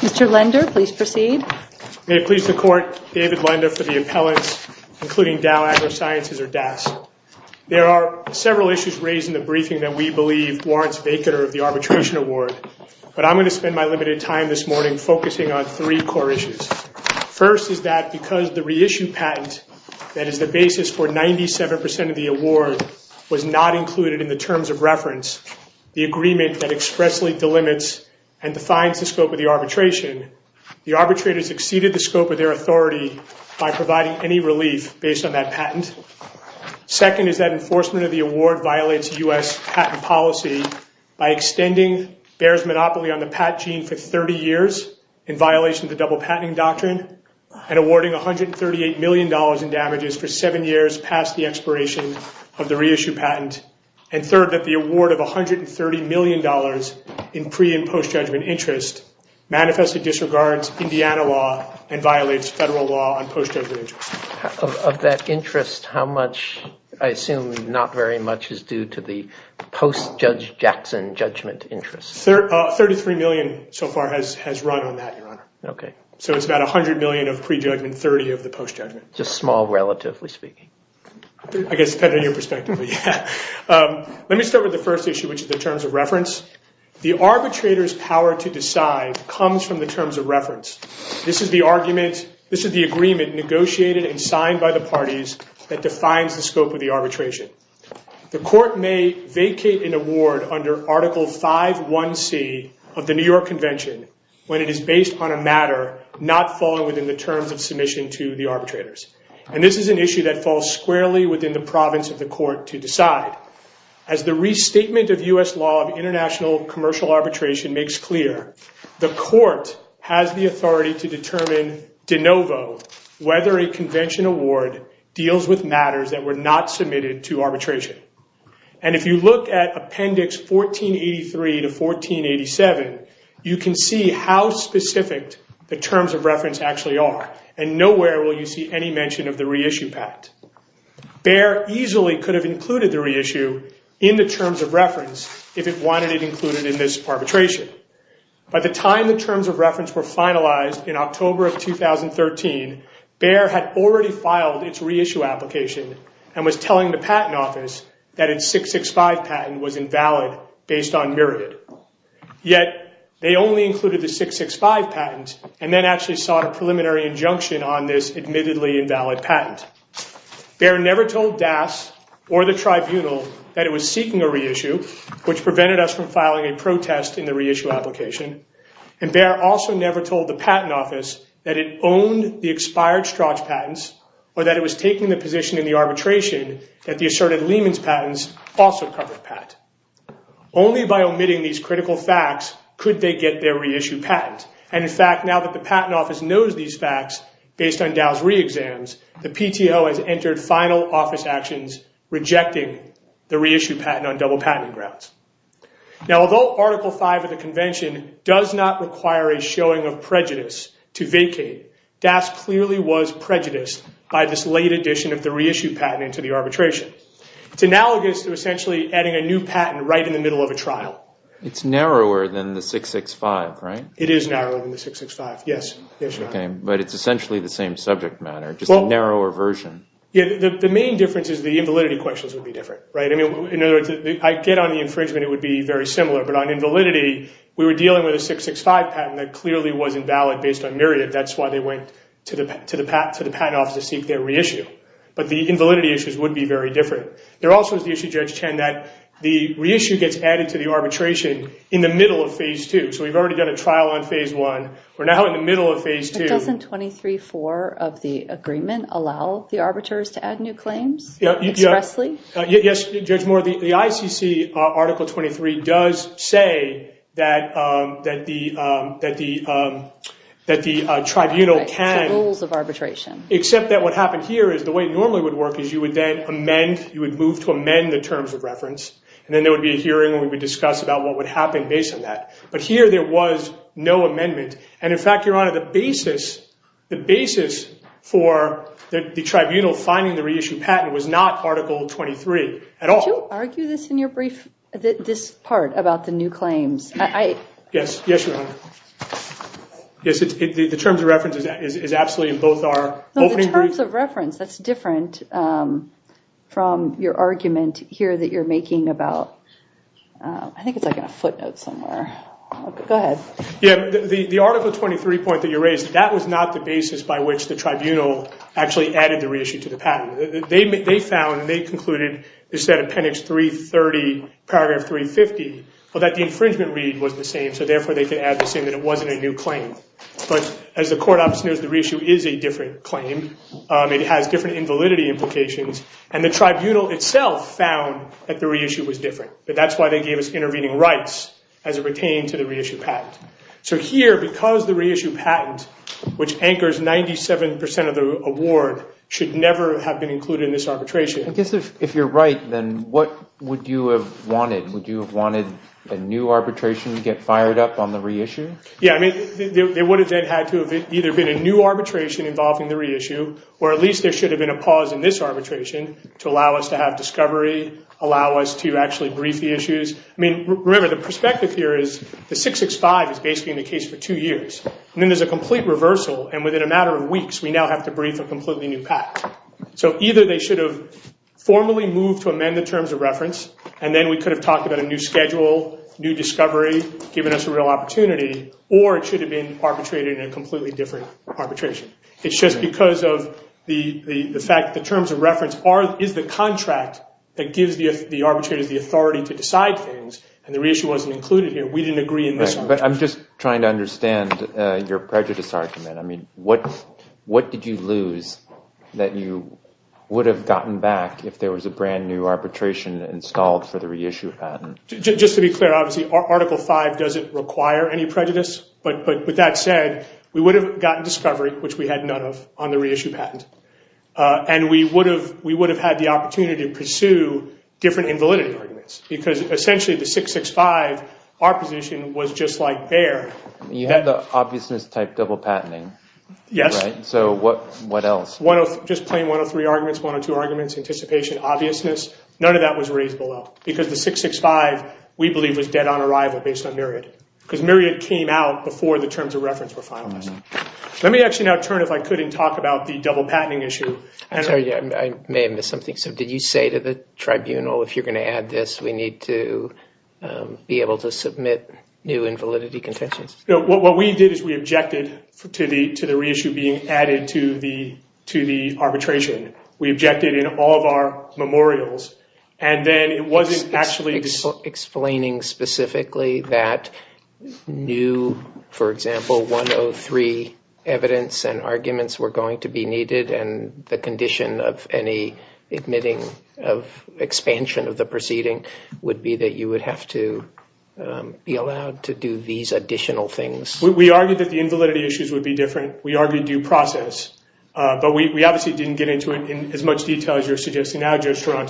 Mr. Lender, please proceed. May it please the Court, David Lender for the appellants including Dow AgroSciences or DAS. There are several issues raised in the briefing that we believe warrants vacater of the arbitration award, but I'm going to spend my limited time this morning focusing on three core issues. First is that because the reissued patent that is the basis for 97% of the award was not included in the terms of reference, the agreement that expressly delimits and defines the scope of the arbitration, the arbitrators exceeded the scope of their authority by providing any relief based on that patent. Second is that enforcement of the award violates U.S. patent policy by extending bears monopoly on the Pat gene for 30 years in violation of the double patenting doctrine and awarding $138 million in damages for seven years past the expiration of the reissue patent. And third, that the award of $130 million in pre- and post-judgment interest manifestly disregards Indiana law and violates federal law on post-judgment interest. Of that interest, how much, I guess, $33 million so far has run on that, Your Honor. Okay. So it's about $100 million of pre-judgment, $30 million of the post-judgment. Just small, relatively speaking. I guess, depending on your perspective. Let me start with the first issue, which is the terms of reference. The arbitrator's power to decide comes from the terms of reference. This is the argument, this is the agreement negotiated and signed by the parties that defines the scope of the New York Convention when it is based on a matter not falling within the terms of submission to the arbitrators. And this is an issue that falls squarely within the province of the court to decide. As the restatement of U.S. law of international commercial arbitration makes clear, the court has the authority to determine de novo whether a convention award deals with matters that were not You can see how specific the terms of reference actually are. And nowhere will you see any mention of the reissue patent. Bayer easily could have included the reissue in the terms of reference if it wanted it included in this arbitration. By the time the terms of reference were finalized in October of 2013, Bayer had already filed its reissue application and was telling the Patent Office that was invalid based on myriad. Yet they only included the 665 patent and then actually sought a preliminary injunction on this admittedly invalid patent. Bayer never told DAS or the tribunal that it was seeking a reissue, which prevented us from filing a protest in the reissue application. And Bayer also never told the Patent Office that it owned the expired Strauch patents or that it was also covered patent. Only by omitting these critical facts could they get their reissue patent. And in fact now that the Patent Office knows these facts based on DAO's re-exams, the PTO has entered final office actions rejecting the reissue patent on double patent grounds. Now although Article 5 of the Convention does not require a showing of prejudice to vacate, DAS clearly was prejudiced by this late addition of the reissue patent into the arbitration. It's analogous to essentially adding a new patent right in the middle of a trial. It's narrower than the 665, right? It is narrower than the 665, yes. Okay, but it's essentially the same subject matter, just a narrower version. Yeah, the main difference is the invalidity questions would be different, right? I mean, in other words, I get on the infringement it would be very similar, but on invalidity we were dealing with a 665 patent that clearly was invalid based on myriad. That's why they went to the Patent Office to be very different. There also is the issue, Judge Chen, that the reissue gets added to the arbitration in the middle of Phase 2. So we've already done a trial on Phase 1, we're now in the middle of Phase 2. Doesn't 23-4 of the agreement allow the arbiters to add new claims expressly? Yes, Judge Moore, the ICC Article 23 does say that the tribunal can, except that what happened here is the way it normally would work is you would then amend, you would move to amend the terms of reference, and then there would be a hearing and we would discuss about what would happen based on that. But here there was no amendment, and in fact, Your Honor, the basis, the basis for the tribunal finding the reissue patent was not Article 23 at all. Could you argue this in your brief, this part about the new claims? Yes, yes, Your Honor. Yes, the terms of reference, that's different from your argument here that you're making about, I think it's like a footnote somewhere. Go ahead. Yeah, the Article 23 point that you raised, that was not the basis by which the tribunal actually added the reissue to the patent. They found, they concluded, instead of Appendix 330, Paragraph 350, that the infringement read was the same, so therefore they could add the same, that it wasn't a new claim. But as the court office knows, the has different invalidity implications, and the tribunal itself found that the reissue was different, but that's why they gave us intervening rights as it pertained to the reissue patent. So here, because the reissue patent, which anchors 97% of the award, should never have been included in this arbitration. I guess if you're right, then what would you have wanted? Would you have wanted a new arbitration to get fired up on the reissue? Yeah, I mean, there would have had to have either been a new arbitration involving the reissue, or at least there should have been a pause in this arbitration to allow us to have discovery, allow us to actually brief the issues. I mean, remember, the perspective here is the 665 is basically in the case for two years, and then there's a complete reversal, and within a matter of weeks, we now have to brief a completely new patent. So either they should have formally moved to amend the terms of reference, and then we could have talked about a new schedule, new discovery, given us a real opportunity, or it should have been arbitrated in a completely different arbitration. It's just because of the fact that the terms of reference is the contract that gives the arbitrators the authority to decide things, and the reissue wasn't included here. We didn't agree in this one. But I'm just trying to understand your prejudice argument. I mean, what did you lose that you would have gotten back if there was a brand new arbitration installed for the reissue patent? Just to be clear, obviously, Article V doesn't require any prejudice, but with that said, we would have gotten discovery, which we had none of, on the reissue patent. And we would have had the opportunity to pursue different invalidity arguments, because essentially the 665, our position was just like there. You had the obviousness type double patenting. Yes. So what else? Just plain 103 arguments, 102 arguments, anticipation, obviousness. None of that was raised below, because the 665, we believe, was dead on arrival based on myriad. Because myriad came out before the terms of reference were finalized. Let me actually now turn, if I could, and talk about the double patenting issue. I'm sorry, I may have missed something. So did you say to the tribunal, if you're going to add this, we need to be able to submit new invalidity contentions? No, what we did is we objected to the reissue being added to the arbitration. We objected in all of our explaining specifically that new, for example, 103 evidence and arguments were going to be needed. And the condition of any admitting of expansion of the proceeding would be that you would have to be allowed to do these additional things. We argued that the invalidity issues would be different. We argued due process, but we obviously didn't get into it in as much detail as you're saying.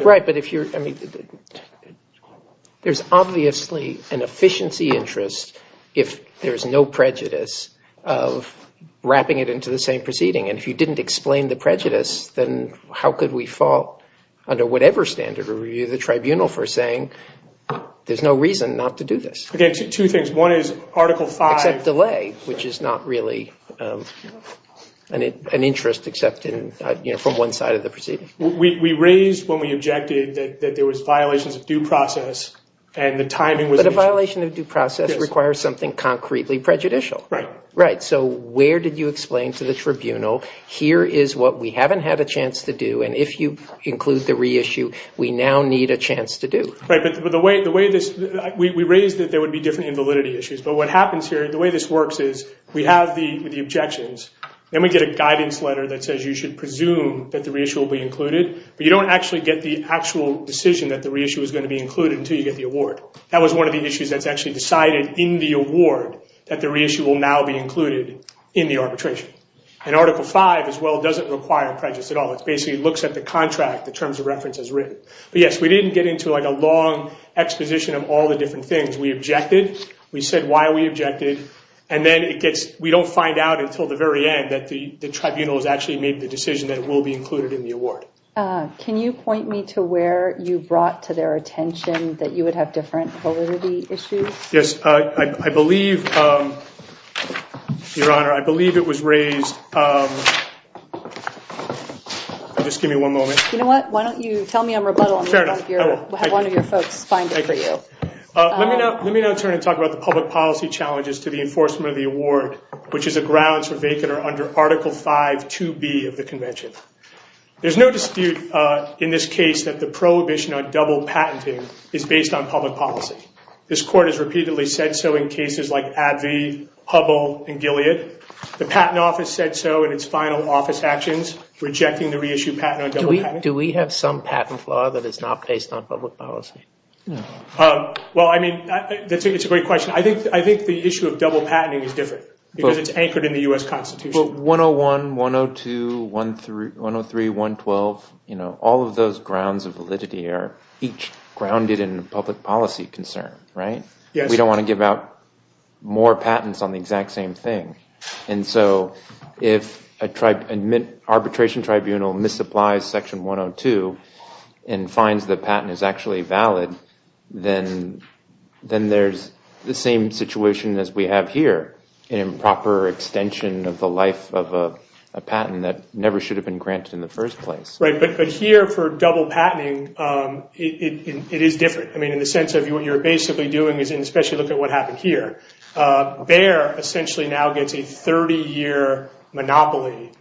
There's obviously an efficiency interest if there's no prejudice of wrapping it into the same proceeding. And if you didn't explain the prejudice, then how could we fall under whatever standard or review the tribunal for saying there's no reason not to do this? Okay, two things. One is Article 5. Except delay, which is not really an interest except in, you know, from one side of the proceeding. We raised when we objected that there was violations of due process and the timing was... But a violation of due process requires something concretely prejudicial. Right. Right. So where did you explain to the tribunal, here is what we haven't had a chance to do, and if you include the reissue, we now need a chance to do. Right, but the way this, we raised that there would be different invalidity issues. But what happens here, the way this works is we have the objections, then we get a guidance letter that says you should presume that the reissue will be included, but you don't actually get the actual decision that the reissue is going to be included until you get the award. That was one of the issues that's actually decided in the award that the reissue will now be included in the arbitration. And Article 5, as well, doesn't require prejudice at all. It basically looks at the contract, the terms of reference as written. But yes, we didn't get into like a long exposition of all the different things. We objected, we said why we objected, and then it gets, we don't find out until the very end that the tribunal has actually made the to where you brought to their attention that you would have different validity issues? Yes, I believe, Your Honor, I believe it was raised, just give me one moment. You know what, why don't you tell me I'm rebuttal, and we'll have one of your folks find it for you. Let me now turn and talk about the public policy challenges to the enforcement of the award, which is a grounds for vacant or under Article 5 2B of the Convention. There's no dispute in this case that the prohibition on double patenting is based on public policy. This court has repeatedly said so in cases like Abbey, Hubble, and Gilead. The Patent Office said so in its final office actions, rejecting the reissue patent on double patenting. Do we have some patent flaw that is not based on public policy? Well, I mean, it's a great question. I think the issue of double patenting is different, because it's anchored in the U.S. Constitution. 101, 102, 103, 112, you know, all of those grounds of validity are each grounded in public policy concern, right? Yes. We don't want to give out more patents on the exact same thing, and so if an arbitration tribunal misapplies section 102 and finds the patent is actually valid, then there's the same situation as we have here, an improper extension of the life of a patent that never should have been granted in the first place. Right, but here for double patenting, it is different. I mean, in the sense of what you're basically doing is, and especially look at what happened here, Bayer essentially now gets a 30-year monopoly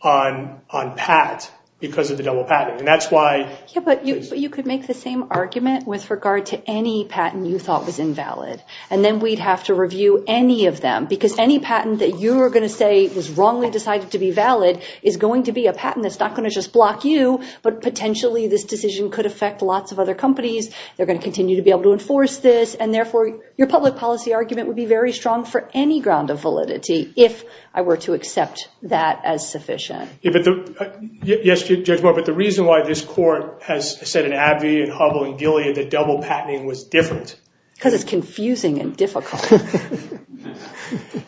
on patent because of the double patent, and that's why... Yeah, but you could make the same argument with regard to any patent you thought was invalid, and then we'd have to review any of them, because any patent that you were going to say was wrongly decided to be valid is going to be a patent that's not going to just block you, but potentially this decision could affect lots of other companies. They're going to continue to be able to enforce this, and therefore your public policy argument would be very strong for any ground of validity, if I were to accept that as sufficient. Yes, Judge Moore, but the reason why this court has said in Abbey and Hubbell and Gilead that double patenting was different... Because it's confusing and difficult.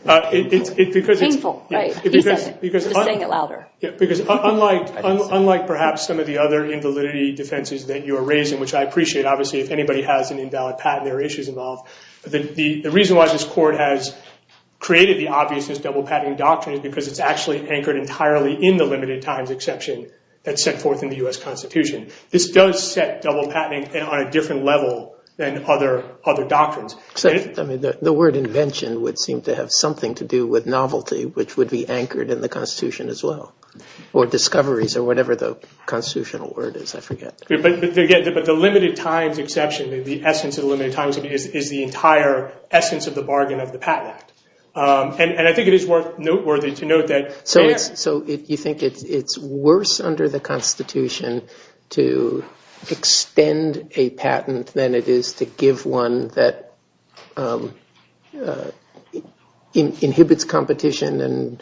It's because it's... Painful, right, he said it, just saying it louder. Yeah, because unlike perhaps some of the other invalidity defenses that you are raising, which I appreciate, obviously, if anybody has an invalid patent, there are issues involved, but the reason why this court has created the obviousness of double patenting doctrine is because it's actually anchored entirely in the limited times exception that's set forth in the U.S. I mean, the word invention would seem to have something to do with novelty, which would be anchored in the Constitution as well, or discoveries, or whatever the constitutional word is, I forget. But the limited times exception, the essence of the limited times is the entire essence of the bargain of the Patent Act, and I think it is worth, noteworthy to note that... So you think it's worse under the Constitution to extend a patent than it is to give one that inhibits competition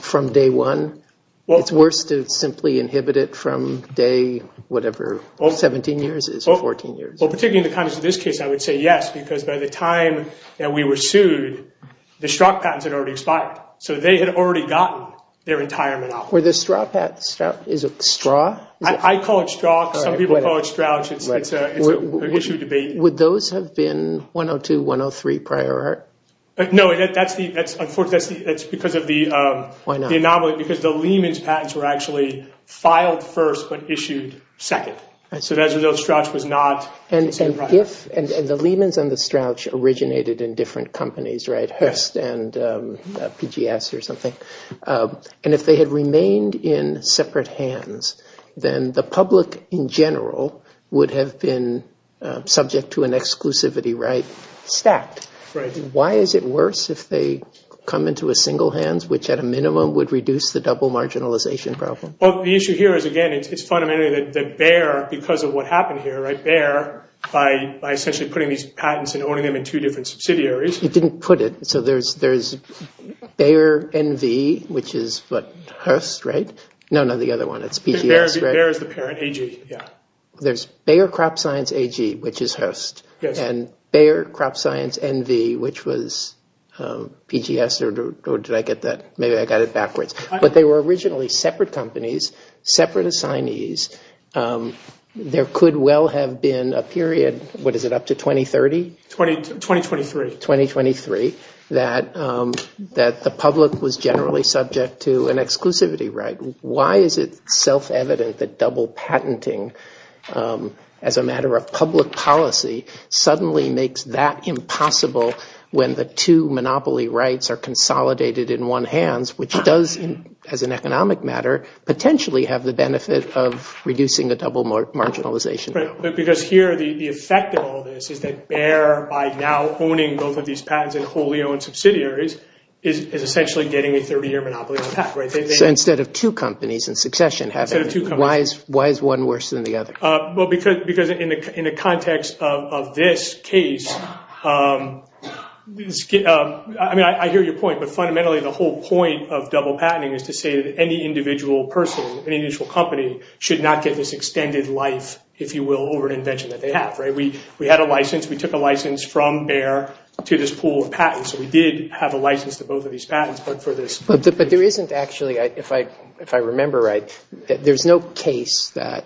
from day one? It's worse to simply inhibit it from day whatever, 17 years is, or 14 years? Well, particularly in the context of this case, I would say yes, because by the time that we were sued, the Strzok patents had already expired, so they had already gotten their retirement off. Were the Strzok patents, is it Straw? I call it Straw, some people call it Strouch, it's an issue of debate. Would those have been 102-103 prior art? No, that's because of the anomaly, because the Lehmans patents were actually filed first but issued second, so as a result, Strouch was not. And the Lehmans and the Strouch originated in different companies, right? And if they had remained in separate hands, then the public in general would have been subject to an exclusivity, right? Why is it worse if they come into a single hands, which at a minimum would reduce the double marginalization problem? Well, the issue here is, again, it's fundamentally that Bayer, because of what happened here, right? Bayer, by essentially putting these patents and owning them in two different subsidiaries... I didn't put it, so there's Bayer NV, which is Hearst, right? No, no, the other one, it's PGS, right? Bayer is the parent, AG, yeah. There's Bayer CropScience AG, which is Hearst, and Bayer CropScience NV, which was PGS, or did I get that? Maybe I got it backwards. But they were originally separate companies, separate assignees. There could well have been a period, what is it, up to 2030? 2023. 2023, that the public was generally subject to an exclusivity, right? Why is it self-evident that double patenting as a matter of public policy suddenly makes that impossible when the two monopoly rights are consolidated in one hands, which does, as an economic matter, potentially have the benefit of reducing the double marginalization problem? Because here, the effect of all this is that Bayer, by now owning both of these patents in wholly owned subsidiaries, is essentially getting a 30-year monopoly on the patent, right? So instead of two companies in succession having... Instead of two companies. Why is one worse than the other? Well, because in the context of this case, I mean, I hear your point, but fundamentally the whole point of double patenting is to say that any individual person, any individual company should not get this extended life, if you will, over an invention that they have, right? We had a license. We took a license from Bayer to this pool of patents. So we did have a license to both of these patents, but for this... But there isn't actually, if I remember right, there's no case that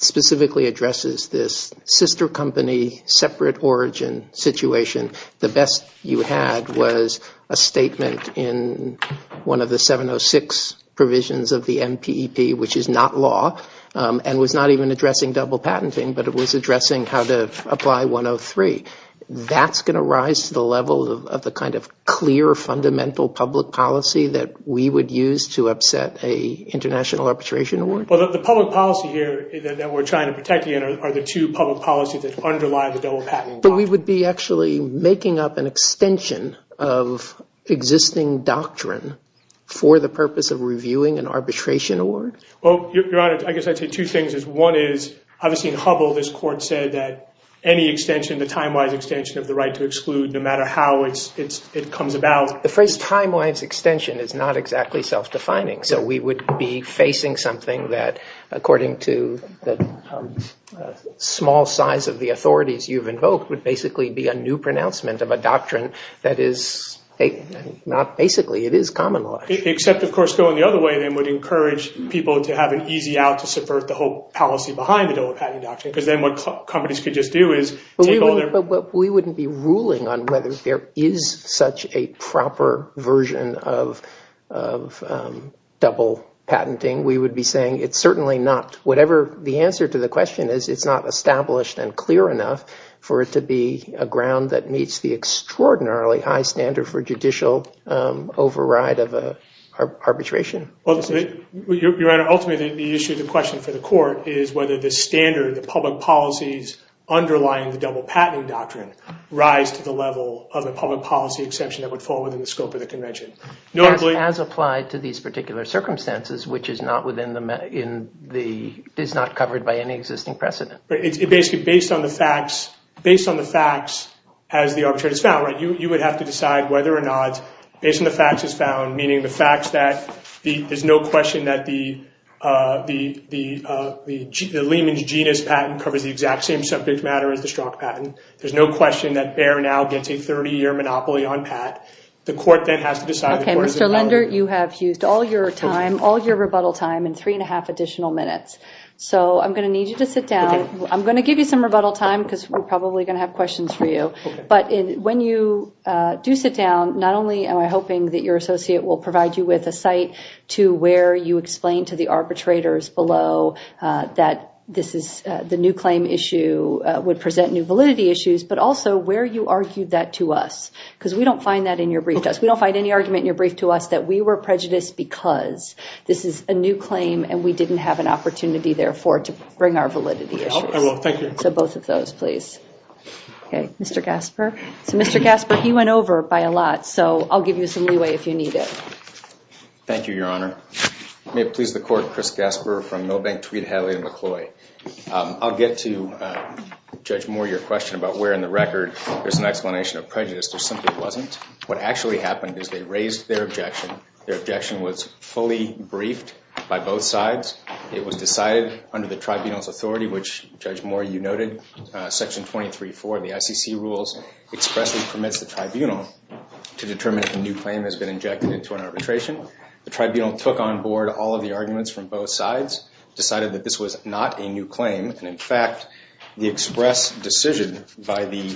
specifically addresses this sister company, separate origin situation. The best you had was a statement in one of the 706 provisions of the MPEP, which is not law, and was not even addressing double patenting, but it was addressing how to apply 103. That's going to rise to the level of the kind of clear fundamental public policy that we would use to upset a international arbitration award? Well, the public policy here that we're trying to protect again are the two public policies that underlie the double patent. But we would be actually making up an extension of existing doctrine for the purpose of reviewing an arbitration award? Well, Your Honor, I guess I'd say two things. One is obviously in Hubble this court said that any extension, the time-wise extension of the right to exclude no matter how it comes about. The phrase time-wise extension is not exactly self-defining. So we would be facing something that according to the small size of the authorities you've invoked would basically be a new pronouncement of a doctrine that is not basically, it is common law. Except, of course, going the other way then would encourage people to have an easy out to subvert the whole policy behind the double patent doctrine because then what companies could just do is take all their— we would be saying it's certainly not. Whatever the answer to the question is, it's not established and clear enough for it to be a ground that meets the extraordinarily high standard for judicial override of arbitration. Well, Your Honor, ultimately the issue, the question for the court is whether the standard, the public policies underlying the double patent doctrine rise to the level of a public policy as applied to these particular circumstances, which is not within the— is not covered by any existing precedent. It's basically based on the facts as the arbitrate is found, right? You would have to decide whether or not, based on the facts as found, meaning the facts that there's no question that the Lehman's genus patent covers the exact same subject matter as the Strzok patent. There's no question that Bayer now gets a 30-year monopoly on Pat. The court then has to decide— Okay, Mr. Linder, you have used all your time, all your rebuttal time and three and a half additional minutes. So I'm going to need you to sit down. I'm going to give you some rebuttal time because we're probably going to have questions for you. But when you do sit down, not only am I hoping that your associate will provide you with a site to where you explain to the arbitrators below that this is the new claim issue would present new validity issues, but also where you argued that to us because we don't find that in your brief to us. We don't find any argument in your brief to us that we were prejudiced because this is a new claim and we didn't have an opportunity, therefore, to bring our validity issues. I will. Thank you. So both of those, please. Okay, Mr. Gasper. So Mr. Gasper, he went over by a lot, so I'll give you some leeway if you need it. Thank you, Your Honor. May it please the court, Chris Gasper from Milbank, Tweed, Hadley, and McCloy. I'll get to, Judge Moore, your question about where in the record there's an explanation of prejudice. There simply wasn't. What actually happened is they raised their objection. Their objection was fully briefed by both sides. It was decided under the tribunal's authority, which, Judge Moore, you noted, Section 23-4 of the ICC rules expressly permits the tribunal to determine if a new claim has been injected into an arbitration. The tribunal took on board all of the arguments from both sides, decided that this was not a new claim, and, in fact, the express decision by the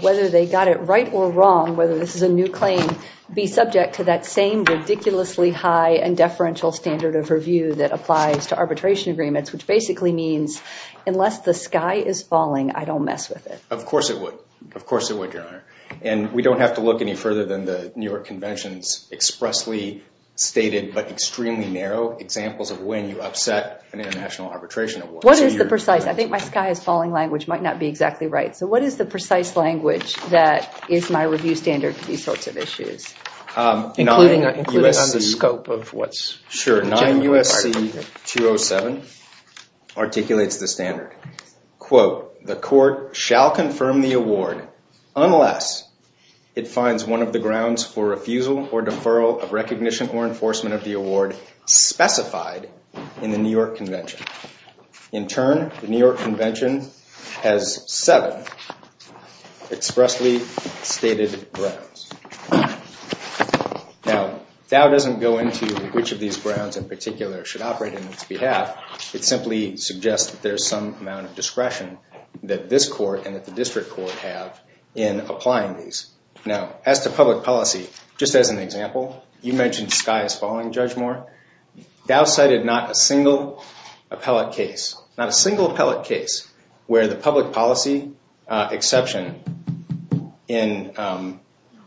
whether they got it right or wrong, whether this is a new claim, be subject to that same ridiculously high and deferential standard of review that applies to arbitration agreements, which basically means unless the sky is falling, I don't mess with it. Of course it would. Of course it would, Your Honor. And we don't have to look any further than the New York Convention's expressly stated but extremely narrow examples of when you upset an international arbitration award. What is the precise? I think my sky is falling language might not be exactly right. So what is the precise language that is my review standard for these sorts of issues? Including on the scope of what's generally part of it. Sure. 9 U.S.C. 207 articulates the standard. Quote, the court shall confirm the award unless it finds one of the grounds for refusal or deferral of recognition or enforcement of the award specified in the New York Convention. In turn, the New York Convention has seven expressly stated grounds. Now, Dow doesn't go into which of these grounds in particular should operate in its behalf. It simply suggests that there's some amount of discretion that this court and that the district court have in applying these. Now, as to public policy, just as an example, you mentioned sky is falling, Judge Moore. Dow cited not a single appellate case. Not a single appellate case where the public policy exception in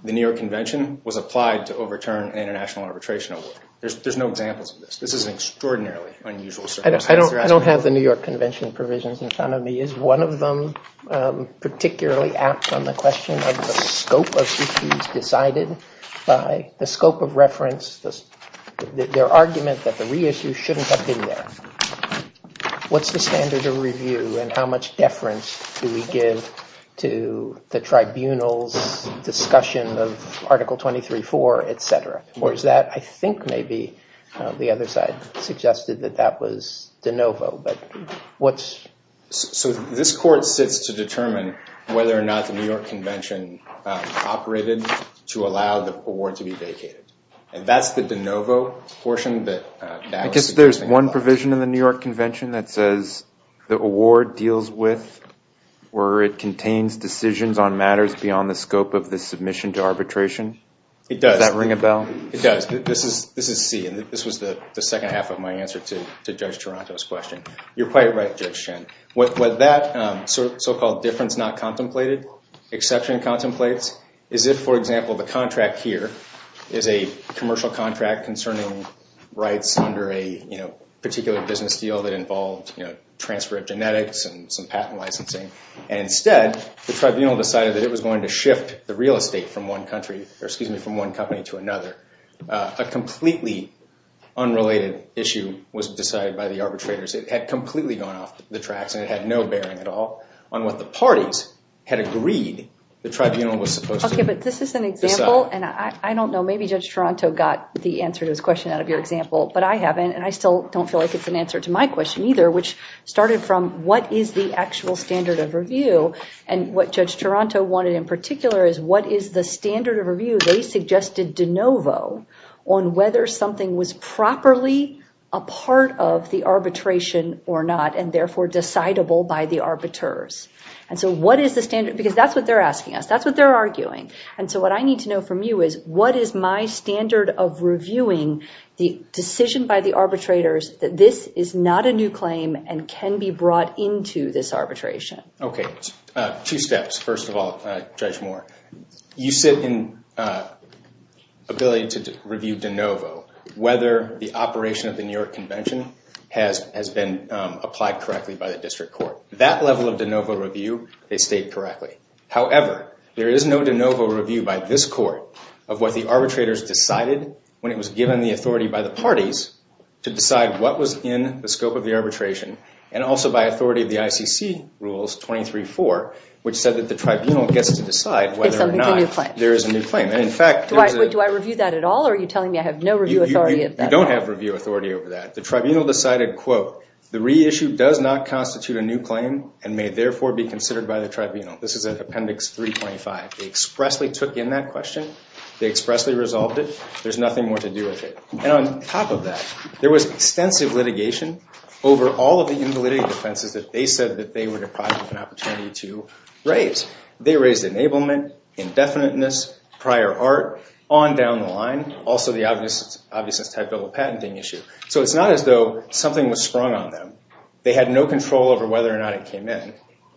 the New York Convention was applied to overturn an international arbitration award. There's no examples of this. This is an extraordinarily unusual circumstance. I don't have the New York Convention provisions in front of me. Is one of them particularly apt on the question of the scope of issues decided by the scope of reference? Their argument that the reissue shouldn't have been there. What's the standard of review and how much deference do we give to the tribunal's discussion of Article 23.4, etc.? Or is that, I think maybe the other side suggested that that was de novo, but what's... So this court sits to determine whether or not the New York Convention operated to allow the award to be vacated. And that's the de novo portion that... I guess there's one provision in the New York Convention that says the award deals with or it contains decisions on matters beyond the scope of the submission to arbitration. It does. Does that ring a bell? It does. This is C, and this was the second half of my answer to Judge Taranto's question. You're quite right, Judge Chen. What that so-called difference not contemplated, exception contemplates, is if, for example, the contract here is a commercial contract concerning rights under a particular business deal that involved transfer of genetics and some patent licensing, and instead the tribunal decided that it was going to shift the real estate from one company to another. A completely unrelated issue was decided by the arbitrators. It had completely gone off the tracks and it had no bearing at all on what the parties had agreed that the tribunal was supposed to decide. Okay, but this is an example, and I don't know. Maybe Judge Taranto got the answer to his question out of your example, but I haven't, and I still don't feel like it's an answer to my question either, which started from what is the actual standard of review, and what Judge Taranto wanted in particular is what is the standard of review they suggested de novo on whether something was properly a part of the arbitration or not, and therefore decidable by the arbiters. And so what is the standard, because that's what they're asking us. That's what they're arguing, and so what I need to know from you is what is my standard of reviewing the decision by the arbitrators that this is not a new claim and can be brought into this arbitration. Okay, two steps. First of all, Judge Moore, you sit in ability to review de novo whether the operation of the New York Convention has been applied correctly by the district court. That level of de novo review they state correctly. However, there is no de novo review by this court of what the arbitrators decided when it was given the authority by the parties to decide what was in the scope of the arbitration, and also by authority of the ICC rules 23-4, which said that the tribunal gets to decide whether or not there is a new claim. Do I review that at all, or are you telling me I have no review authority? You don't have review authority over that. The tribunal decided, quote, the reissue does not constitute a new claim and may therefore be considered by the tribunal. This is at Appendix 325. They expressly took in that question. They expressly resolved it. There's nothing more to do with it. And on top of that, there was extensive litigation over all of the invalidity defenses that they said that they were deprived of an opportunity to raise. They raised enablement, indefiniteness, prior art, on down the line, also the obviousness type bill of patenting issue. So it's not as though something was sprung on them. They had no control over whether or not it came in.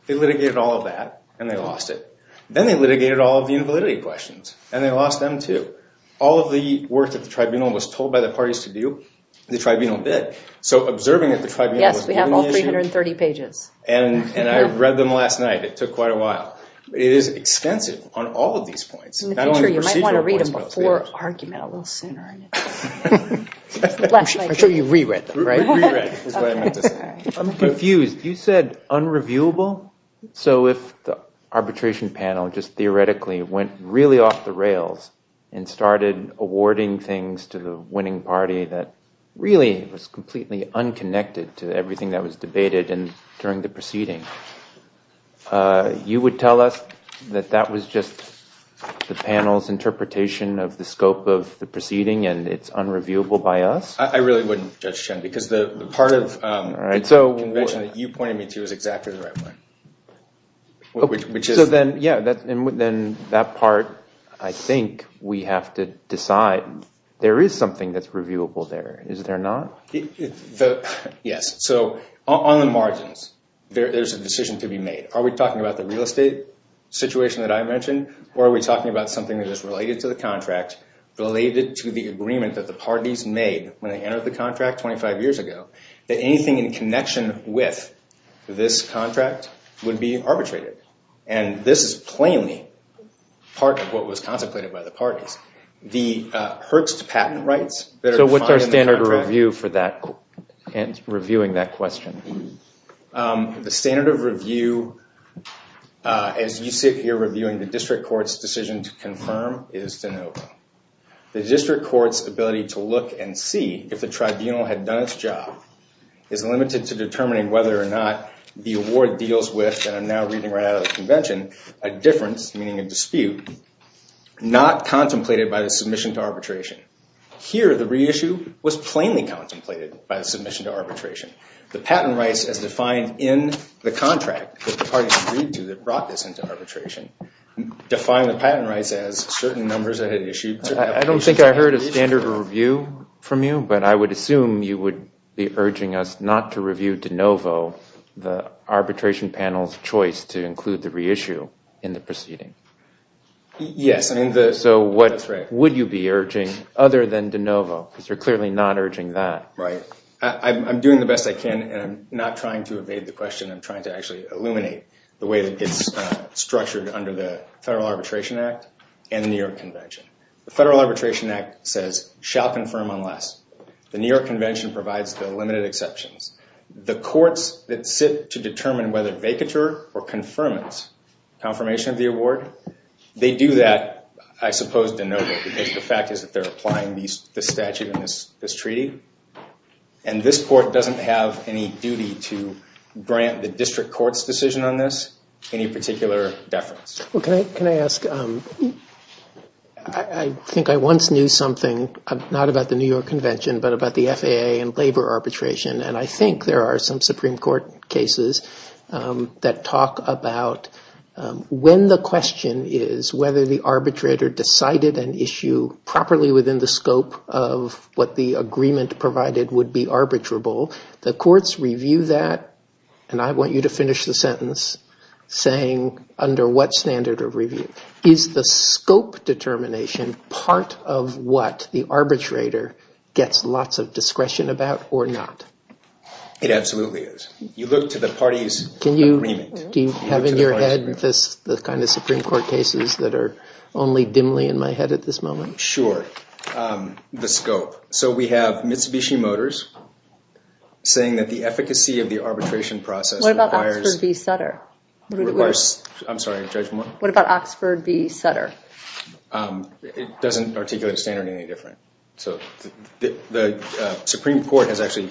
They litigated all of that, and they lost it. Then they litigated all of the invalidity questions, and they lost them too. All of the work that the tribunal was told by the parties to do, the tribunal did. So observing that the tribunal was doing the issue. Yes, we have all 330 pages. And I read them last night. It took quite a while. It is extensive on all of these points. In the future, you might want to read them before argument a little sooner. I'm sure you re-read them, right? Re-read is what I meant to say. I'm confused. You said unreviewable. So if the arbitration panel just theoretically went really off the rails and started awarding things to the winning party that really was completely unconnected to everything that was debated during the proceeding, you would tell us that that was just the panel's interpretation of the scope of the proceeding and it's unreviewable by us? I really wouldn't, Judge Chen, because the part of the convention that you pointed me to is exactly the right one. Then that part, I think we have to decide. There is something that's reviewable there. Is there not? Yes. So on the margins, there's a decision to be made. Are we talking about the real estate situation that I mentioned, or are we talking about something that is related to the contract, related to the agreement that the parties made when they entered the contract 25 years ago, that anything in connection with this contract would be arbitrated? And this is plainly part of what was contemplated by the parties. The Herx to patent rights that are defined in the contract. What's your view for that and reviewing that question? The standard of review, as you see it here, reviewing the district court's decision to confirm is to know. The district court's ability to look and see if the tribunal had done its job is limited to determining whether or not the award deals with, and I'm now reading right out of the convention, a difference, meaning a dispute, not contemplated by the submission to arbitration. Here, the reissue was plainly contemplated by the submission to arbitration. The patent rights as defined in the contract that the parties agreed to that brought this into arbitration define the patent rights as certain numbers that had issued. I don't think I heard a standard of review from you, but I would assume you would be urging us not to review de novo the arbitration panel's choice to include the reissue in the proceeding. Yes. So what would you be urging other than de novo? Because you're clearly not urging that. Right. I'm doing the best I can, and I'm not trying to evade the question. I'm trying to actually illuminate the way that it's structured under the Federal Arbitration Act and the New York Convention. The Federal Arbitration Act says, shall confirm unless. The New York Convention provides the limited exceptions. The courts that sit to determine whether vacatur or confirmance confirmation of the award, they do that, I suppose, de novo. The fact is that they're applying the statute in this treaty, and this court doesn't have any duty to grant the district court's decision on this any particular deference. Can I ask? I think I once knew something, not about the New York Convention, but about the FAA and labor arbitration, and I think there are some Supreme Court cases that talk about when the question is whether the arbitrator decided an issue properly within the scope of what the agreement provided would be arbitrable. The courts review that, and I want you to finish the sentence saying under what standard of review. Is the scope determination part of what the arbitrator gets lots of discretion about or not? It absolutely is. You look to the party's agreement. Do you have in your head the kind of Supreme Court cases that are only dimly in my head at this moment? Sure. The scope. So we have Mitsubishi Motors saying that the efficacy of the arbitration process requires- What about Oxford v. Sutter? I'm sorry, Judge Moore? What about Oxford v. Sutter? It doesn't articulate a standard any different. The Supreme Court has actually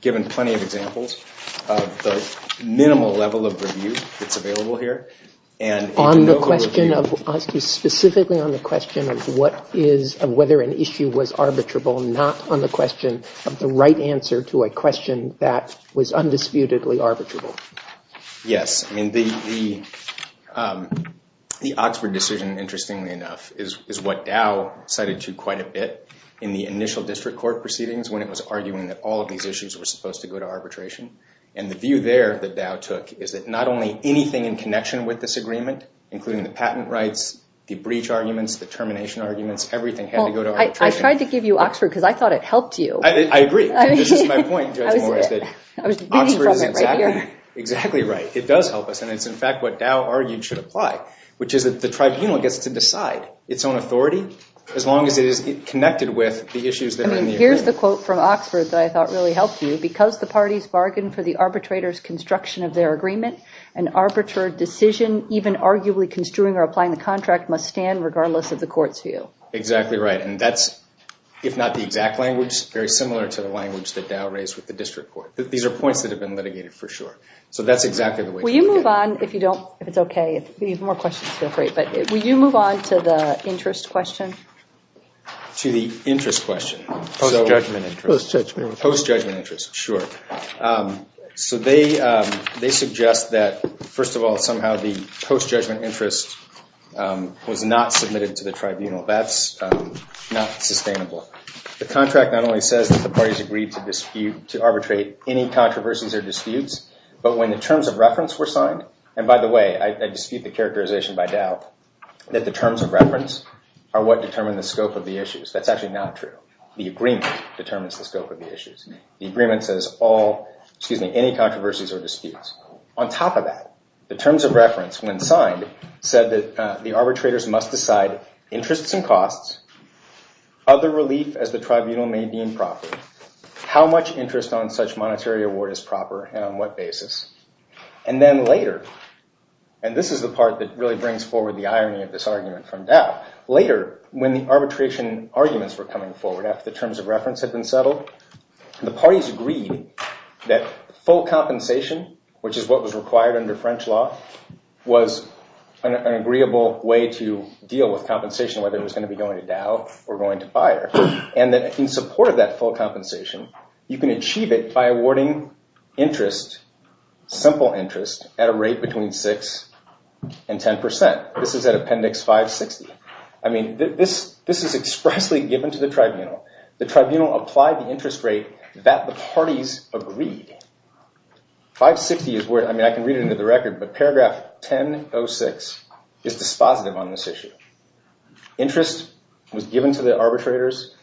given plenty of examples of the minimal level of review that's available here. On the question of, specifically on the question of whether an issue was arbitrable, not on the question of the right answer to a question that was undisputedly arbitrable. Yes. The Oxford decision, interestingly enough, is what Dow cited to quite a bit in the initial district court proceedings when it was arguing that all of these issues were supposed to go to arbitration. And the view there that Dow took is that not only anything in connection with this agreement, including the patent rights, the breach arguments, the termination arguments, everything had to go to arbitration. I tried to give you Oxford because I thought it helped you. I agree. This is my point, Judge Moore, is that Oxford is exactly right. It does help us. And it's, in fact, what Dow argued should apply, which is that the tribunal gets to decide its own authority as long as it is connected with the issues that are in the agreement. Here's the quote from Oxford that I thought really helped you. Because the parties bargain for the arbitrator's construction of their agreement, an arbitrary decision, even arguably construing or applying the contract, must stand regardless of the court's view. Exactly right. And that's, if not the exact language, very similar to the language that Dow raised with the district court. These are points that have been litigated for sure. So that's exactly the way to look at it. Will you move on? If you don't, if it's okay. If you have more questions, feel free. But will you move on to the interest question? To the interest question. Post-judgment interest. Post-judgment interest. Post-judgment interest, sure. So they suggest that, first of all, somehow the post-judgment interest was not submitted to the tribunal. That's not sustainable. The contract not only says that the parties agreed to dispute, to arbitrate any controversies or disputes, but when the terms of reference were signed, and by the way, I dispute the characterization by Dow, that the terms of reference are what determine the scope of the issues. That's actually not true. The agreement determines the scope of the issues. The agreement says all, excuse me, any controversies or disputes. On top of that, the terms of reference, when signed, said that the arbitrators must decide interests and costs, other relief as the tribunal may deem proper, how much interest on such monetary award is proper and on what basis. And then later, and this is the part that really brings forward the irony of this argument from Dow, later, when the arbitration arguments were coming forward, after the terms of reference had been settled, the parties agreed that full compensation, which is what was required under French law, was an agreeable way to deal with compensation, whether it was going to be going to Dow or going to Bayer, and that if you supported that full compensation, you can achieve it by awarding interest, simple interest, at a rate between 6% and 10%. This is at Appendix 560. I mean, this is expressly given to the tribunal. The tribunal applied the interest rate that the parties agreed. 560 is where, I mean, I can read it into the record, but paragraph 1006 is dispositive on this issue. Interest was given to the arbitrators.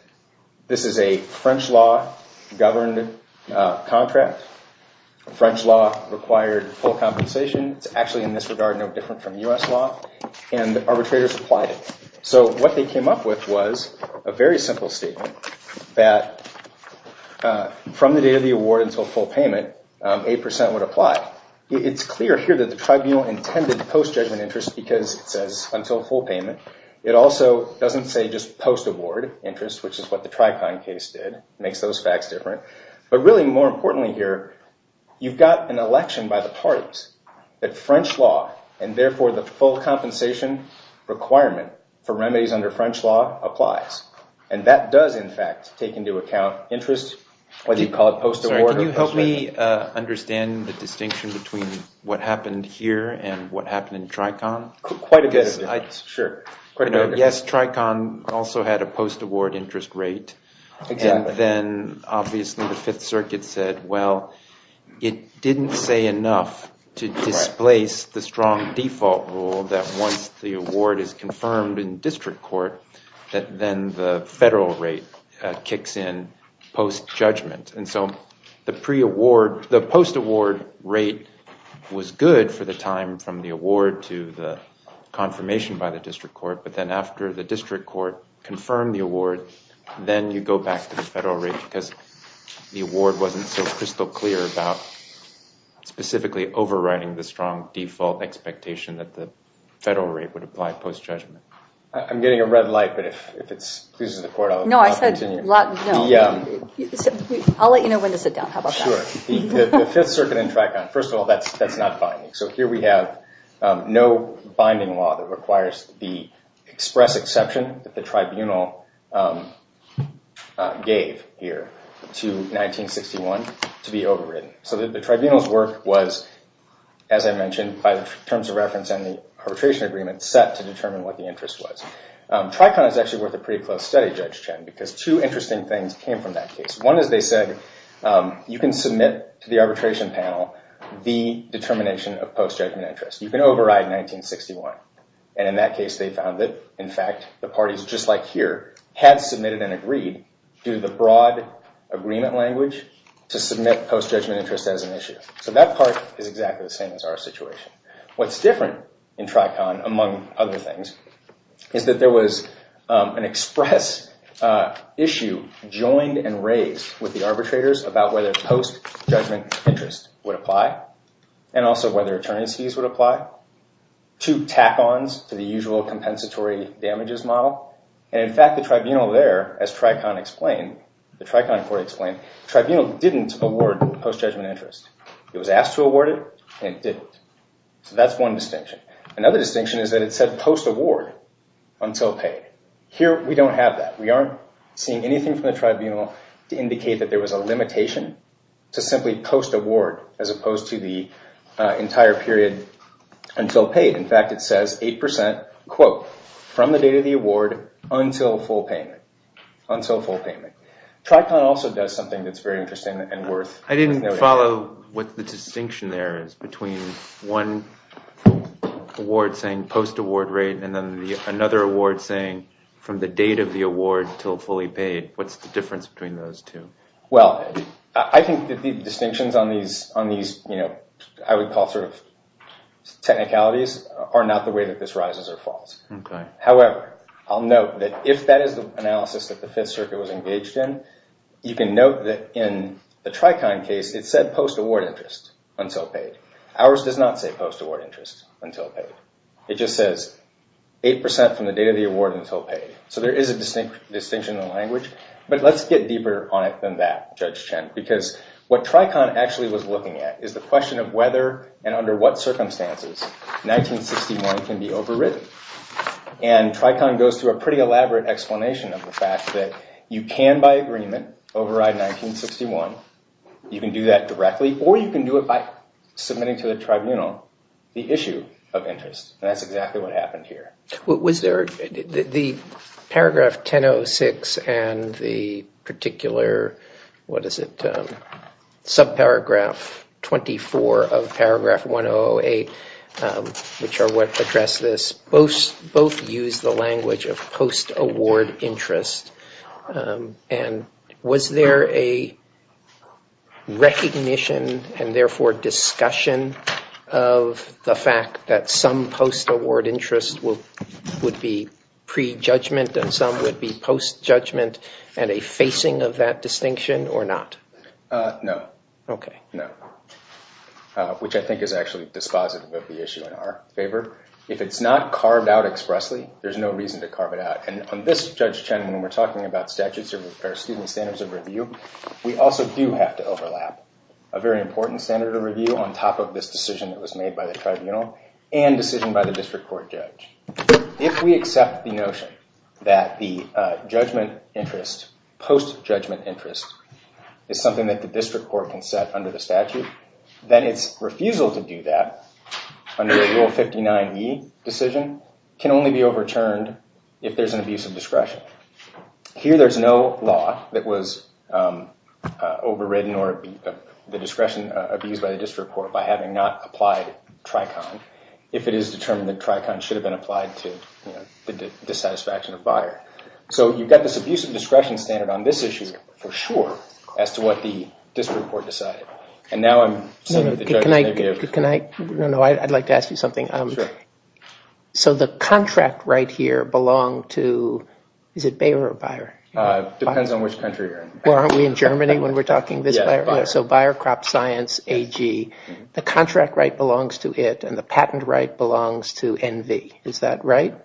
This is a French law governed contract. French law required full compensation. It's actually, in this regard, no different from US law. And the arbitrators applied it. So what they came up with was a very simple statement that from the date of the award until full payment, 8% would apply. It's clear here that the tribunal intended post-judgment interest because it says until full payment. It also doesn't say just post-award interest, which is what the Tricon case did. It makes those facts different. But really, more importantly here, you've got an election by the parties. And therefore, the full compensation requirement for remedies under French law applies. And that does, in fact, take into account interest, whether you call it post-award or post-payment. Can you help me understand the distinction between what happened here and what happened in Tricon? Quite a bit, sure. Yes, Tricon also had a post-award interest rate. And then, obviously, the Fifth Circuit said, well, it didn't say enough to displace the strong default rule that once the award is confirmed in district court, that then the federal rate kicks in post-judgment. And so the post-award rate was good for the time from the award to the confirmation by the district court. But then after the district court confirmed the award, then you go back to the federal rate because the award wasn't so crystal clear about specifically overriding the strong default expectation that the federal rate would apply post-judgment. I'm getting a red light, but if it pleases the court, I'll continue. No, I said, no. I'll let you know when to sit down. How about that? Sure. The Fifth Circuit in Tricon, first of all, that's not binding. So here we have no binding law that requires the express exception that the tribunal gave here to 1961 to be overridden. So the tribunal's work was, as I mentioned, by the terms of reference and the arbitration agreement set to determine what the interest was. Tricon is actually worth a pretty close study, Judge Chen, because two interesting things came from that case. One is they said, you can submit to the arbitration panel the determination of post-judgment interest. You can override 1961. And in that case, they found that, in fact, the parties just like here had submitted and agreed, due to the broad agreement language, to submit post-judgment interest as an issue. So that part is exactly the same as our situation. What's different in Tricon, among other things, is that there was an express issue joined and raised with the arbitrators about whether post-judgment interest would apply, and also whether attorney's fees would apply. Two tack-ons to the usual compensatory damages model. And in fact, the tribunal there, as Tricon explained, the Tricon court explained, the tribunal didn't award post-judgment interest. It was asked to award it, and it didn't. So that's one distinction. Another distinction is that it said post-award until paid. Here, we don't have that. We aren't seeing anything from the tribunal to indicate that there was a limitation to simply post-award, as opposed to the entire period until paid. In fact, it says 8%, quote, from the date of the award until full payment, until full payment. Tricon also does something that's very interesting and worth noting. If you follow what the distinction there is between one award saying post-award rate and then another award saying from the date of the award until fully paid, what's the difference between those two? Well, I think that the distinctions on these, I would call sort of technicalities, are not the way that this rises or falls. However, I'll note that if that is the analysis that the Fifth Circuit was engaged in, you can note that in the Tricon case, it said post-award interest until paid. Ours does not say post-award interest until paid. It just says 8% from the date of the award until paid. So there is a distinction in the language. But let's get deeper on it than that, Judge Chen, because what Tricon actually was looking at is the question of whether and under what circumstances 1961 can be overwritten. And Tricon goes through a pretty elaborate explanation of the fact that you can, by agreement, override 1961. You can do that directly or you can do it by submitting to the tribunal the issue of interest. And that's exactly what happened here. Was there the paragraph 1006 and the particular, what is it, subparagraph 24 of paragraph 1008, which are what address this, both use the language of post-award interest. And was there a recognition and therefore discussion of the fact that some post-award interest would be pre-judgment and some would be post-judgment and a facing of that distinction or not? No. Okay. No. Which I think is actually dispositive of the issue in our favor. If it's not carved out expressly, there's no reason to carve it out. And on this, Judge Chen, when we're talking about statutes or student standards of review, we also do have to overlap a very important standard of review on top of this decision that was made by the tribunal and decision by the district court judge. If we accept the notion that the judgment interest, post-judgment interest, is something that the district court can set under the statute, then it's refusal to do that under Rule 59E decision can only be overturned if there's an abuse of discretion. Here there's no law that was overridden or the discretion abused by the district court by having not applied Tricon if it is determined that Tricon should have been applied to the dissatisfaction of buyer. So you've got this abuse of discretion standard on this issue for sure as to what the district court decided. And now I'm sort of the judge's negative. Can I – no, no, I'd like to ask you something. Sure. So the contract right here belonged to – is it buyer or buyer? Depends on which country you're in. Well, aren't we in Germany when we're talking? Yeah, buyer. So buyer, crop, science, AG. The contract right belongs to it and the patent right belongs to NV. Is that right?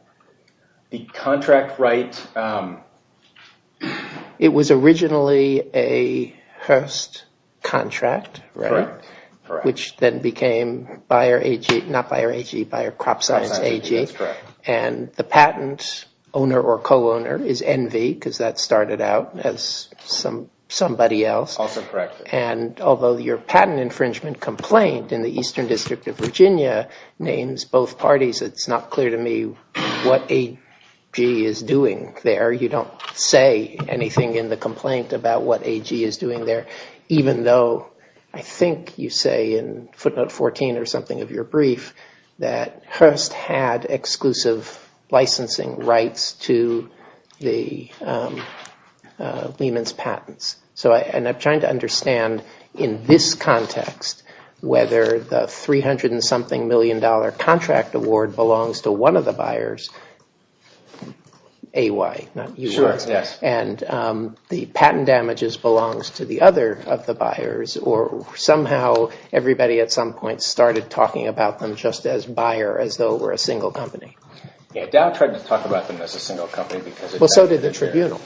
The contract right – It was originally a Hearst contract, right? Correct, correct. Which then became buyer, AG – not buyer, AG, buyer, crop, science, AG. That's correct. And the patent owner or co-owner is NV because that started out as somebody else. Also correct. And although your patent infringement complaint in the Eastern District of Virginia names both parties, it's not clear to me what AG is doing there. You don't say anything in the complaint about what AG is doing there, even though I think you say in footnote 14 or something of your brief that Hearst had exclusive licensing rights to Lehman's patents. And I'm trying to understand in this context whether the $300-and-something million contract award belongs to one of the buyers, AY, not UY. Sure, yes. And the patent damages belongs to the other of the buyers or somehow everybody at some point started talking about them just as buyer, as though it were a single company. Yeah, Dow tried to talk about them as a single company because – Well, so did the tribunal.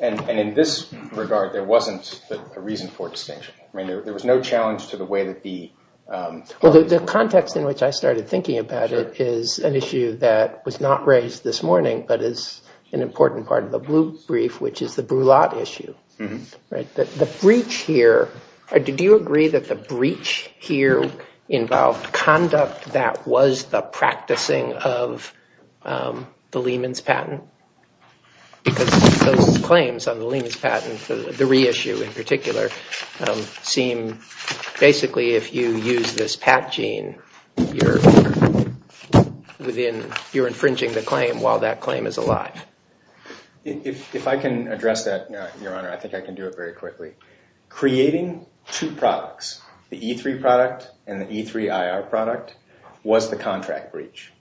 And in this regard, there wasn't a reason for distinction. I mean, there was no challenge to the way that the – Well, the context in which I started thinking about it is an issue that was not raised this morning but is an important part of the blue brief, which is the Brulat issue. The breach here – did you agree that the breach here involved conduct that was the practicing of the Lehman's patent? Because those claims on the Lehman's patent, the reissue in particular, seem basically if you use this patent gene, you're infringing the claim while that claim is alive. If I can address that, Your Honor, I think I can do it very quickly. Creating two products, the E3 product and the E3 IR product, was the contract breach.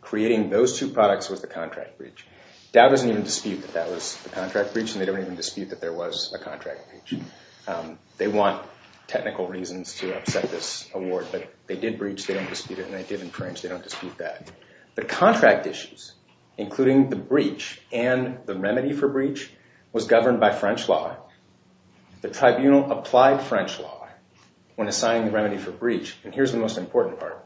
Creating those two products was the contract breach. Dow doesn't even dispute that that was the contract breach, and they don't even dispute that there was a contract breach. They want technical reasons to upset this award, but they did breach, they don't dispute it, and they did infringe, they don't dispute that. The contract issues, including the breach and the remedy for breach, was governed by French law. The tribunal applied French law when assigning the remedy for breach. And here's the most important part.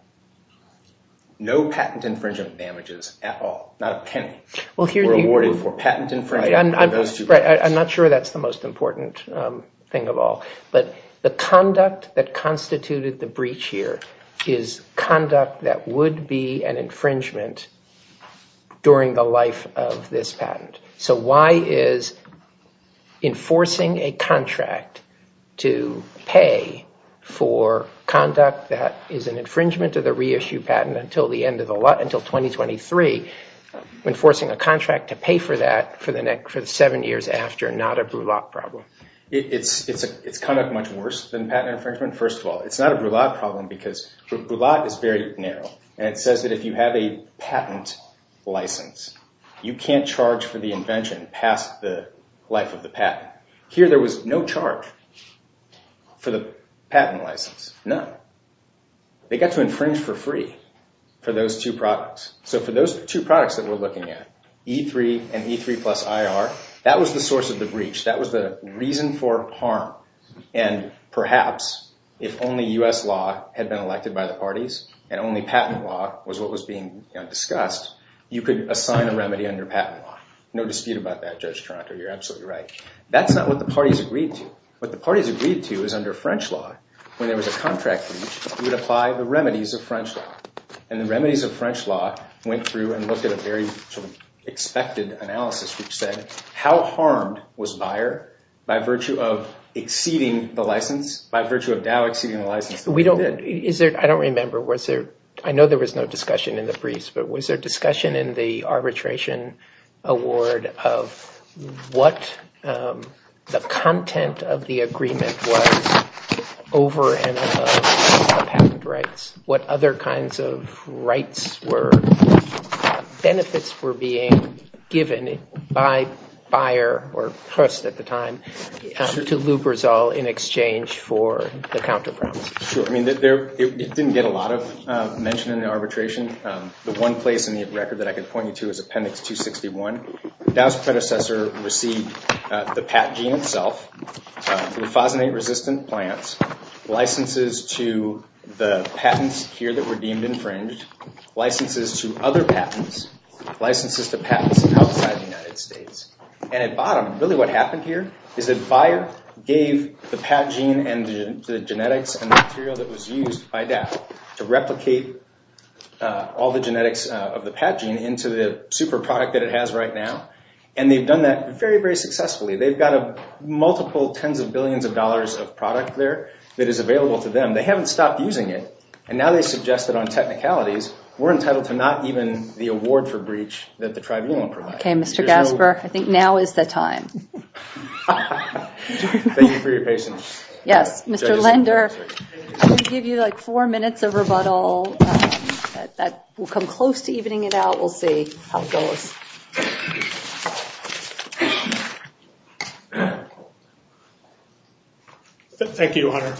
No patent infringement damages at all, not a penny, were awarded for patent infringement in those two cases. I'm not sure that's the most important thing of all. But the conduct that constituted the breach here is conduct that would be an infringement during the life of this patent. So why is enforcing a contract to pay for conduct that is an infringement of the reissue patent until 2023, enforcing a contract to pay for that for the next seven years after not a brulat problem? It's conduct much worse than patent infringement, first of all. It's not a brulat problem because brulat is very narrow, and it says that if you have a patent license, you can't charge for the invention past the life of the patent. Here there was no charge for the patent license, none. They got to infringe for free for those two products. So for those two products that we're looking at, E3 and E3 plus IR, that was the source of the breach. That was the reason for harm. And perhaps if only U.S. law had been elected by the parties and only patent law was what was being discussed, you could assign a remedy under patent law. No dispute about that, Judge Toronto. You're absolutely right. That's not what the parties agreed to. What the parties agreed to is under French law, when there was a contract breach, you would apply the remedies of French law. And the remedies of French law went through and looked at a very expected analysis, which said how harmed was Bayer by virtue of exceeding the license, by virtue of Dow exceeding the license. I don't remember. I know there was no discussion in the briefs, but was there discussion in the arbitration award of what the content of the agreement was over and above the patent rights, what other kinds of rights were benefits were being given by Bayer or Hearst at the time to Luperzal in exchange for the counter promise? Sure. I mean, it didn't get a lot of mention in the arbitration. The one place in the record that I could point you to is Appendix 261. Dow's predecessor received the PATG in itself, the phosinate-resistant plants, licenses to the patents here that were deemed infringed, licenses to other patents, licenses to patents outside the United States. And at bottom, really what happened here is that Bayer gave the PATG and the genetics and the material that was used by Dow to replicate all the genetics of the PATG into the super product that it has right now, and they've done that very, very successfully. They've got multiple tens of billions of dollars of product there that is available to them. They haven't stopped using it, and now they suggest that on technicalities, we're entitled to not even the award for breach that the tribunal provides. Okay, Mr. Gasper, I think now is the time. Thank you for your patience. Yes, Mr. Lender, I'm going to give you like four minutes of rebuttal. That will come close to evening it out. We'll see how it goes. Thank you, Hunter.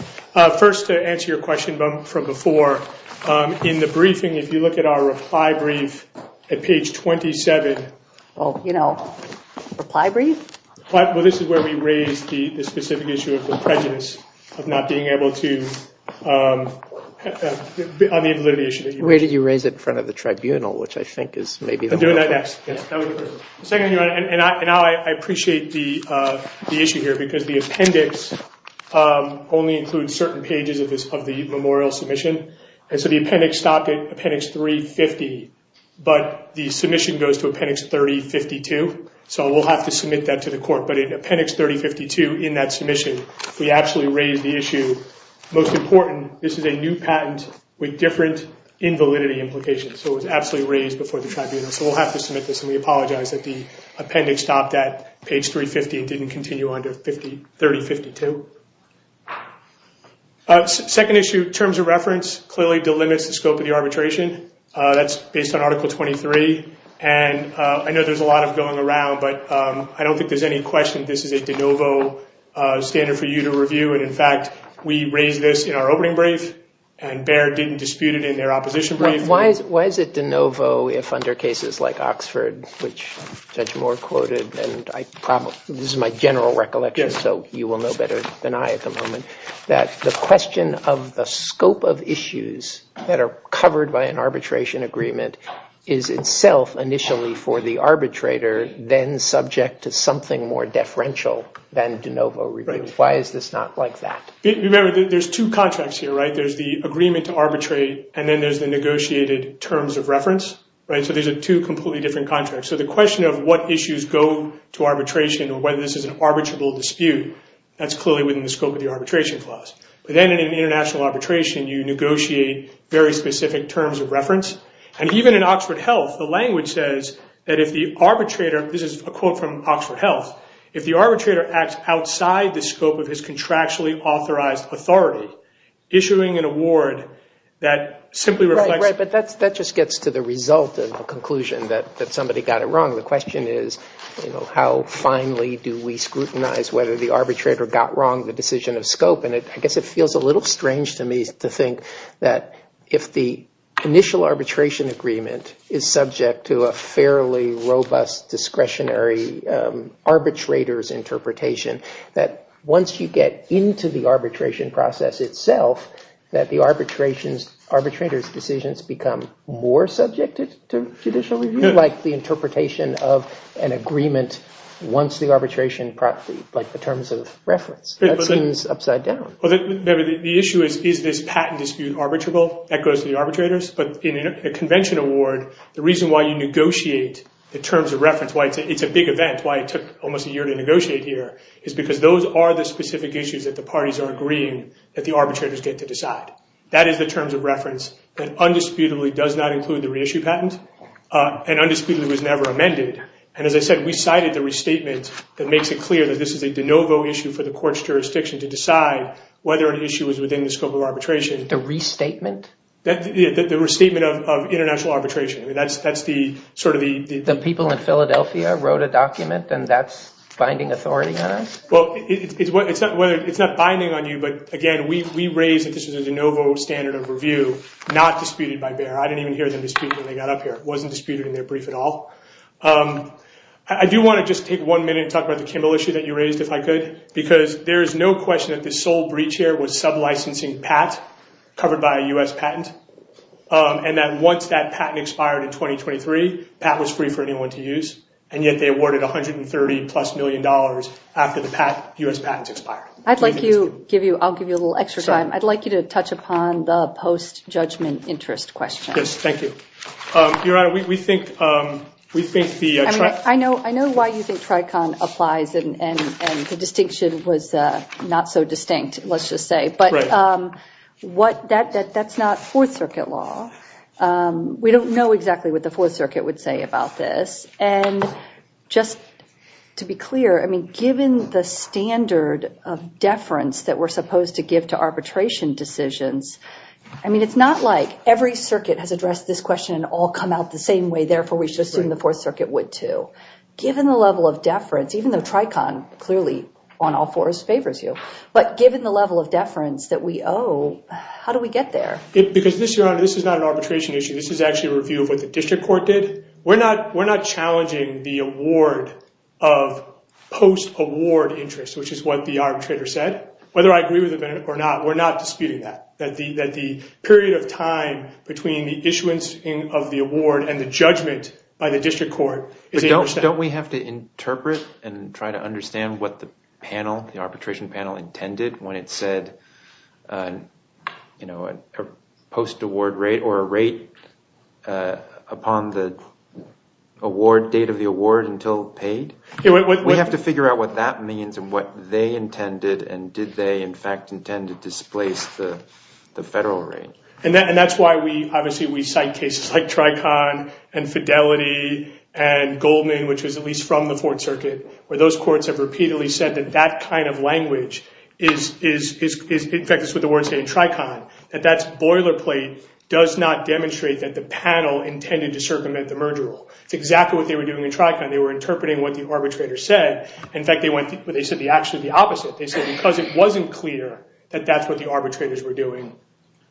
First, to answer your question from before, in the briefing, if you look at our reply brief at page 27. Well, you know, reply brief? Well, this is where we raise the specific issue of the prejudice of not being able to, on the validity issue that you raised. Where did you raise it? In front of the tribunal, which I think is maybe the most important. And now I appreciate the issue here because the appendix only includes certain pages of the memorial submission. And so the appendix stopped at appendix 350, but the submission goes to appendix 3052. So we'll have to submit that to the court. But in appendix 3052, in that submission, we actually raised the issue. Most important, this is a new patent with different invalidity implications. So it was absolutely raised before the tribunal. So we'll have to submit this, and we apologize that the appendix stopped at page 350 and didn't continue on to 3052. Second issue, terms of reference clearly delimits the scope of the arbitration. That's based on Article 23. And I know there's a lot of going around, but I don't think there's any question this is a de novo standard for you to review. And, in fact, we raised this in our opening brief, and Baird didn't dispute it in their opposition brief. Why is it de novo if under cases like Oxford, which Judge Moore quoted, and this is my general recollection, so you will know better than I at the moment, that the question of the scope of issues that are covered by an arbitration agreement is itself initially for the arbitrator, then subject to something more deferential than de novo review. Why is this not like that? Remember, there's two contracts here, right? There's the agreement to arbitrate, and then there's the negotiated terms of reference. So these are two completely different contracts. So the question of what issues go to arbitration or whether this is an arbitrable dispute, that's clearly within the scope of the arbitration clause. But then in an international arbitration, you negotiate very specific terms of reference. And even in Oxford Health, the language says that if the arbitrator, this is a quote from Oxford Health, if the arbitrator acts outside the scope of his contractually authorized authority, issuing an award that simply reflects. Right, but that just gets to the result of the conclusion that somebody got it wrong. The question is, you know, how finely do we scrutinize whether the arbitrator got wrong the decision of scope? And I guess it feels a little strange to me to think that if the initial arbitration agreement is subject to a fairly robust discretionary arbitrator's interpretation, that once you get into the arbitration process itself, that the arbitrator's decisions become more subjected to judicial review, like the interpretation of an agreement once the arbitration, like the terms of reference. That seems upside down. The issue is, is this patent dispute arbitrable? That goes to the arbitrators. But in a convention award, the reason why you negotiate the terms of reference, why it's a big event, why it took almost a year to negotiate here, is because those are the specific issues that the parties are agreeing that the arbitrators get to decide. That is the terms of reference that undisputedly does not include the reissue patent and undisputedly was never amended. And as I said, we cited the restatement that makes it clear that this is a de novo issue for the court's jurisdiction to decide whether an issue is within the scope of arbitration. The restatement? The restatement of international arbitration. The people in Philadelphia wrote a document, and that's binding authority on us? Well, it's not binding on you, but again, we raised that this was a de novo standard of review, not disputed by Bayer. I didn't even hear them dispute it when they got up here. It wasn't disputed in their brief at all. I do want to just take one minute and talk about the Kimbell issue that you raised, if I could, because there is no question that the sole breach here was sublicensing PAT covered by a U.S. patent, and that once that patent expired in 2023, PAT was free for anyone to use, and yet they awarded $130-plus million after the U.S. patents expired. I'd like you to touch upon the post-judgment interest question. Yes, thank you. Your Honor, we think the Tricon applies, and the distinction was not so distinct, let's just say. But that's not Fourth Circuit law. We don't know exactly what the Fourth Circuit would say about this. And just to be clear, I mean, given the standard of deference that we're supposed to give to arbitration decisions, I mean, it's not like every circuit has addressed this question and all come out the same way, therefore we should assume the Fourth Circuit would too. Given the level of deference, even though Tricon clearly on all fours favors you, but given the level of deference that we owe, how do we get there? Because this, Your Honor, this is not an arbitration issue. This is actually a review of what the district court did. We're not challenging the award of post-award interest, which is what the arbitrator said. Whether I agree with it or not, we're not disputing that, that the period of time between the issuance of the award and the judgment by the district court is 8%. So don't we have to interpret and try to understand what the panel, the arbitration panel, intended when it said a post-award rate or a rate upon the date of the award until paid? We have to figure out what that means and what they intended, and did they, in fact, intend to displace the federal rate? And that's why, obviously, we cite cases like Tricon and Fidelity and Goldman, which was at least from the Fourth Circuit, where those courts have repeatedly said that that kind of language is, in fact, it's what the words say in Tricon, that that boilerplate does not demonstrate that the panel intended to circumvent the merger rule. It's exactly what they were doing in Tricon. They were interpreting what the arbitrator said. In fact, they said the opposite. They said because it wasn't clear that that's what the arbitrators were doing,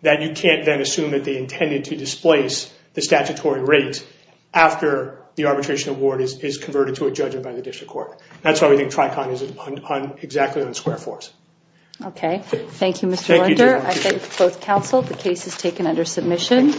that you can't then assume that they intended to displace the statutory rate after the arbitration award is converted to a judgment by the district court. That's why we think Tricon is exactly on the square force. Okay. Thank you, Mr. Linder. I thank both counsel. The case is taken under submission.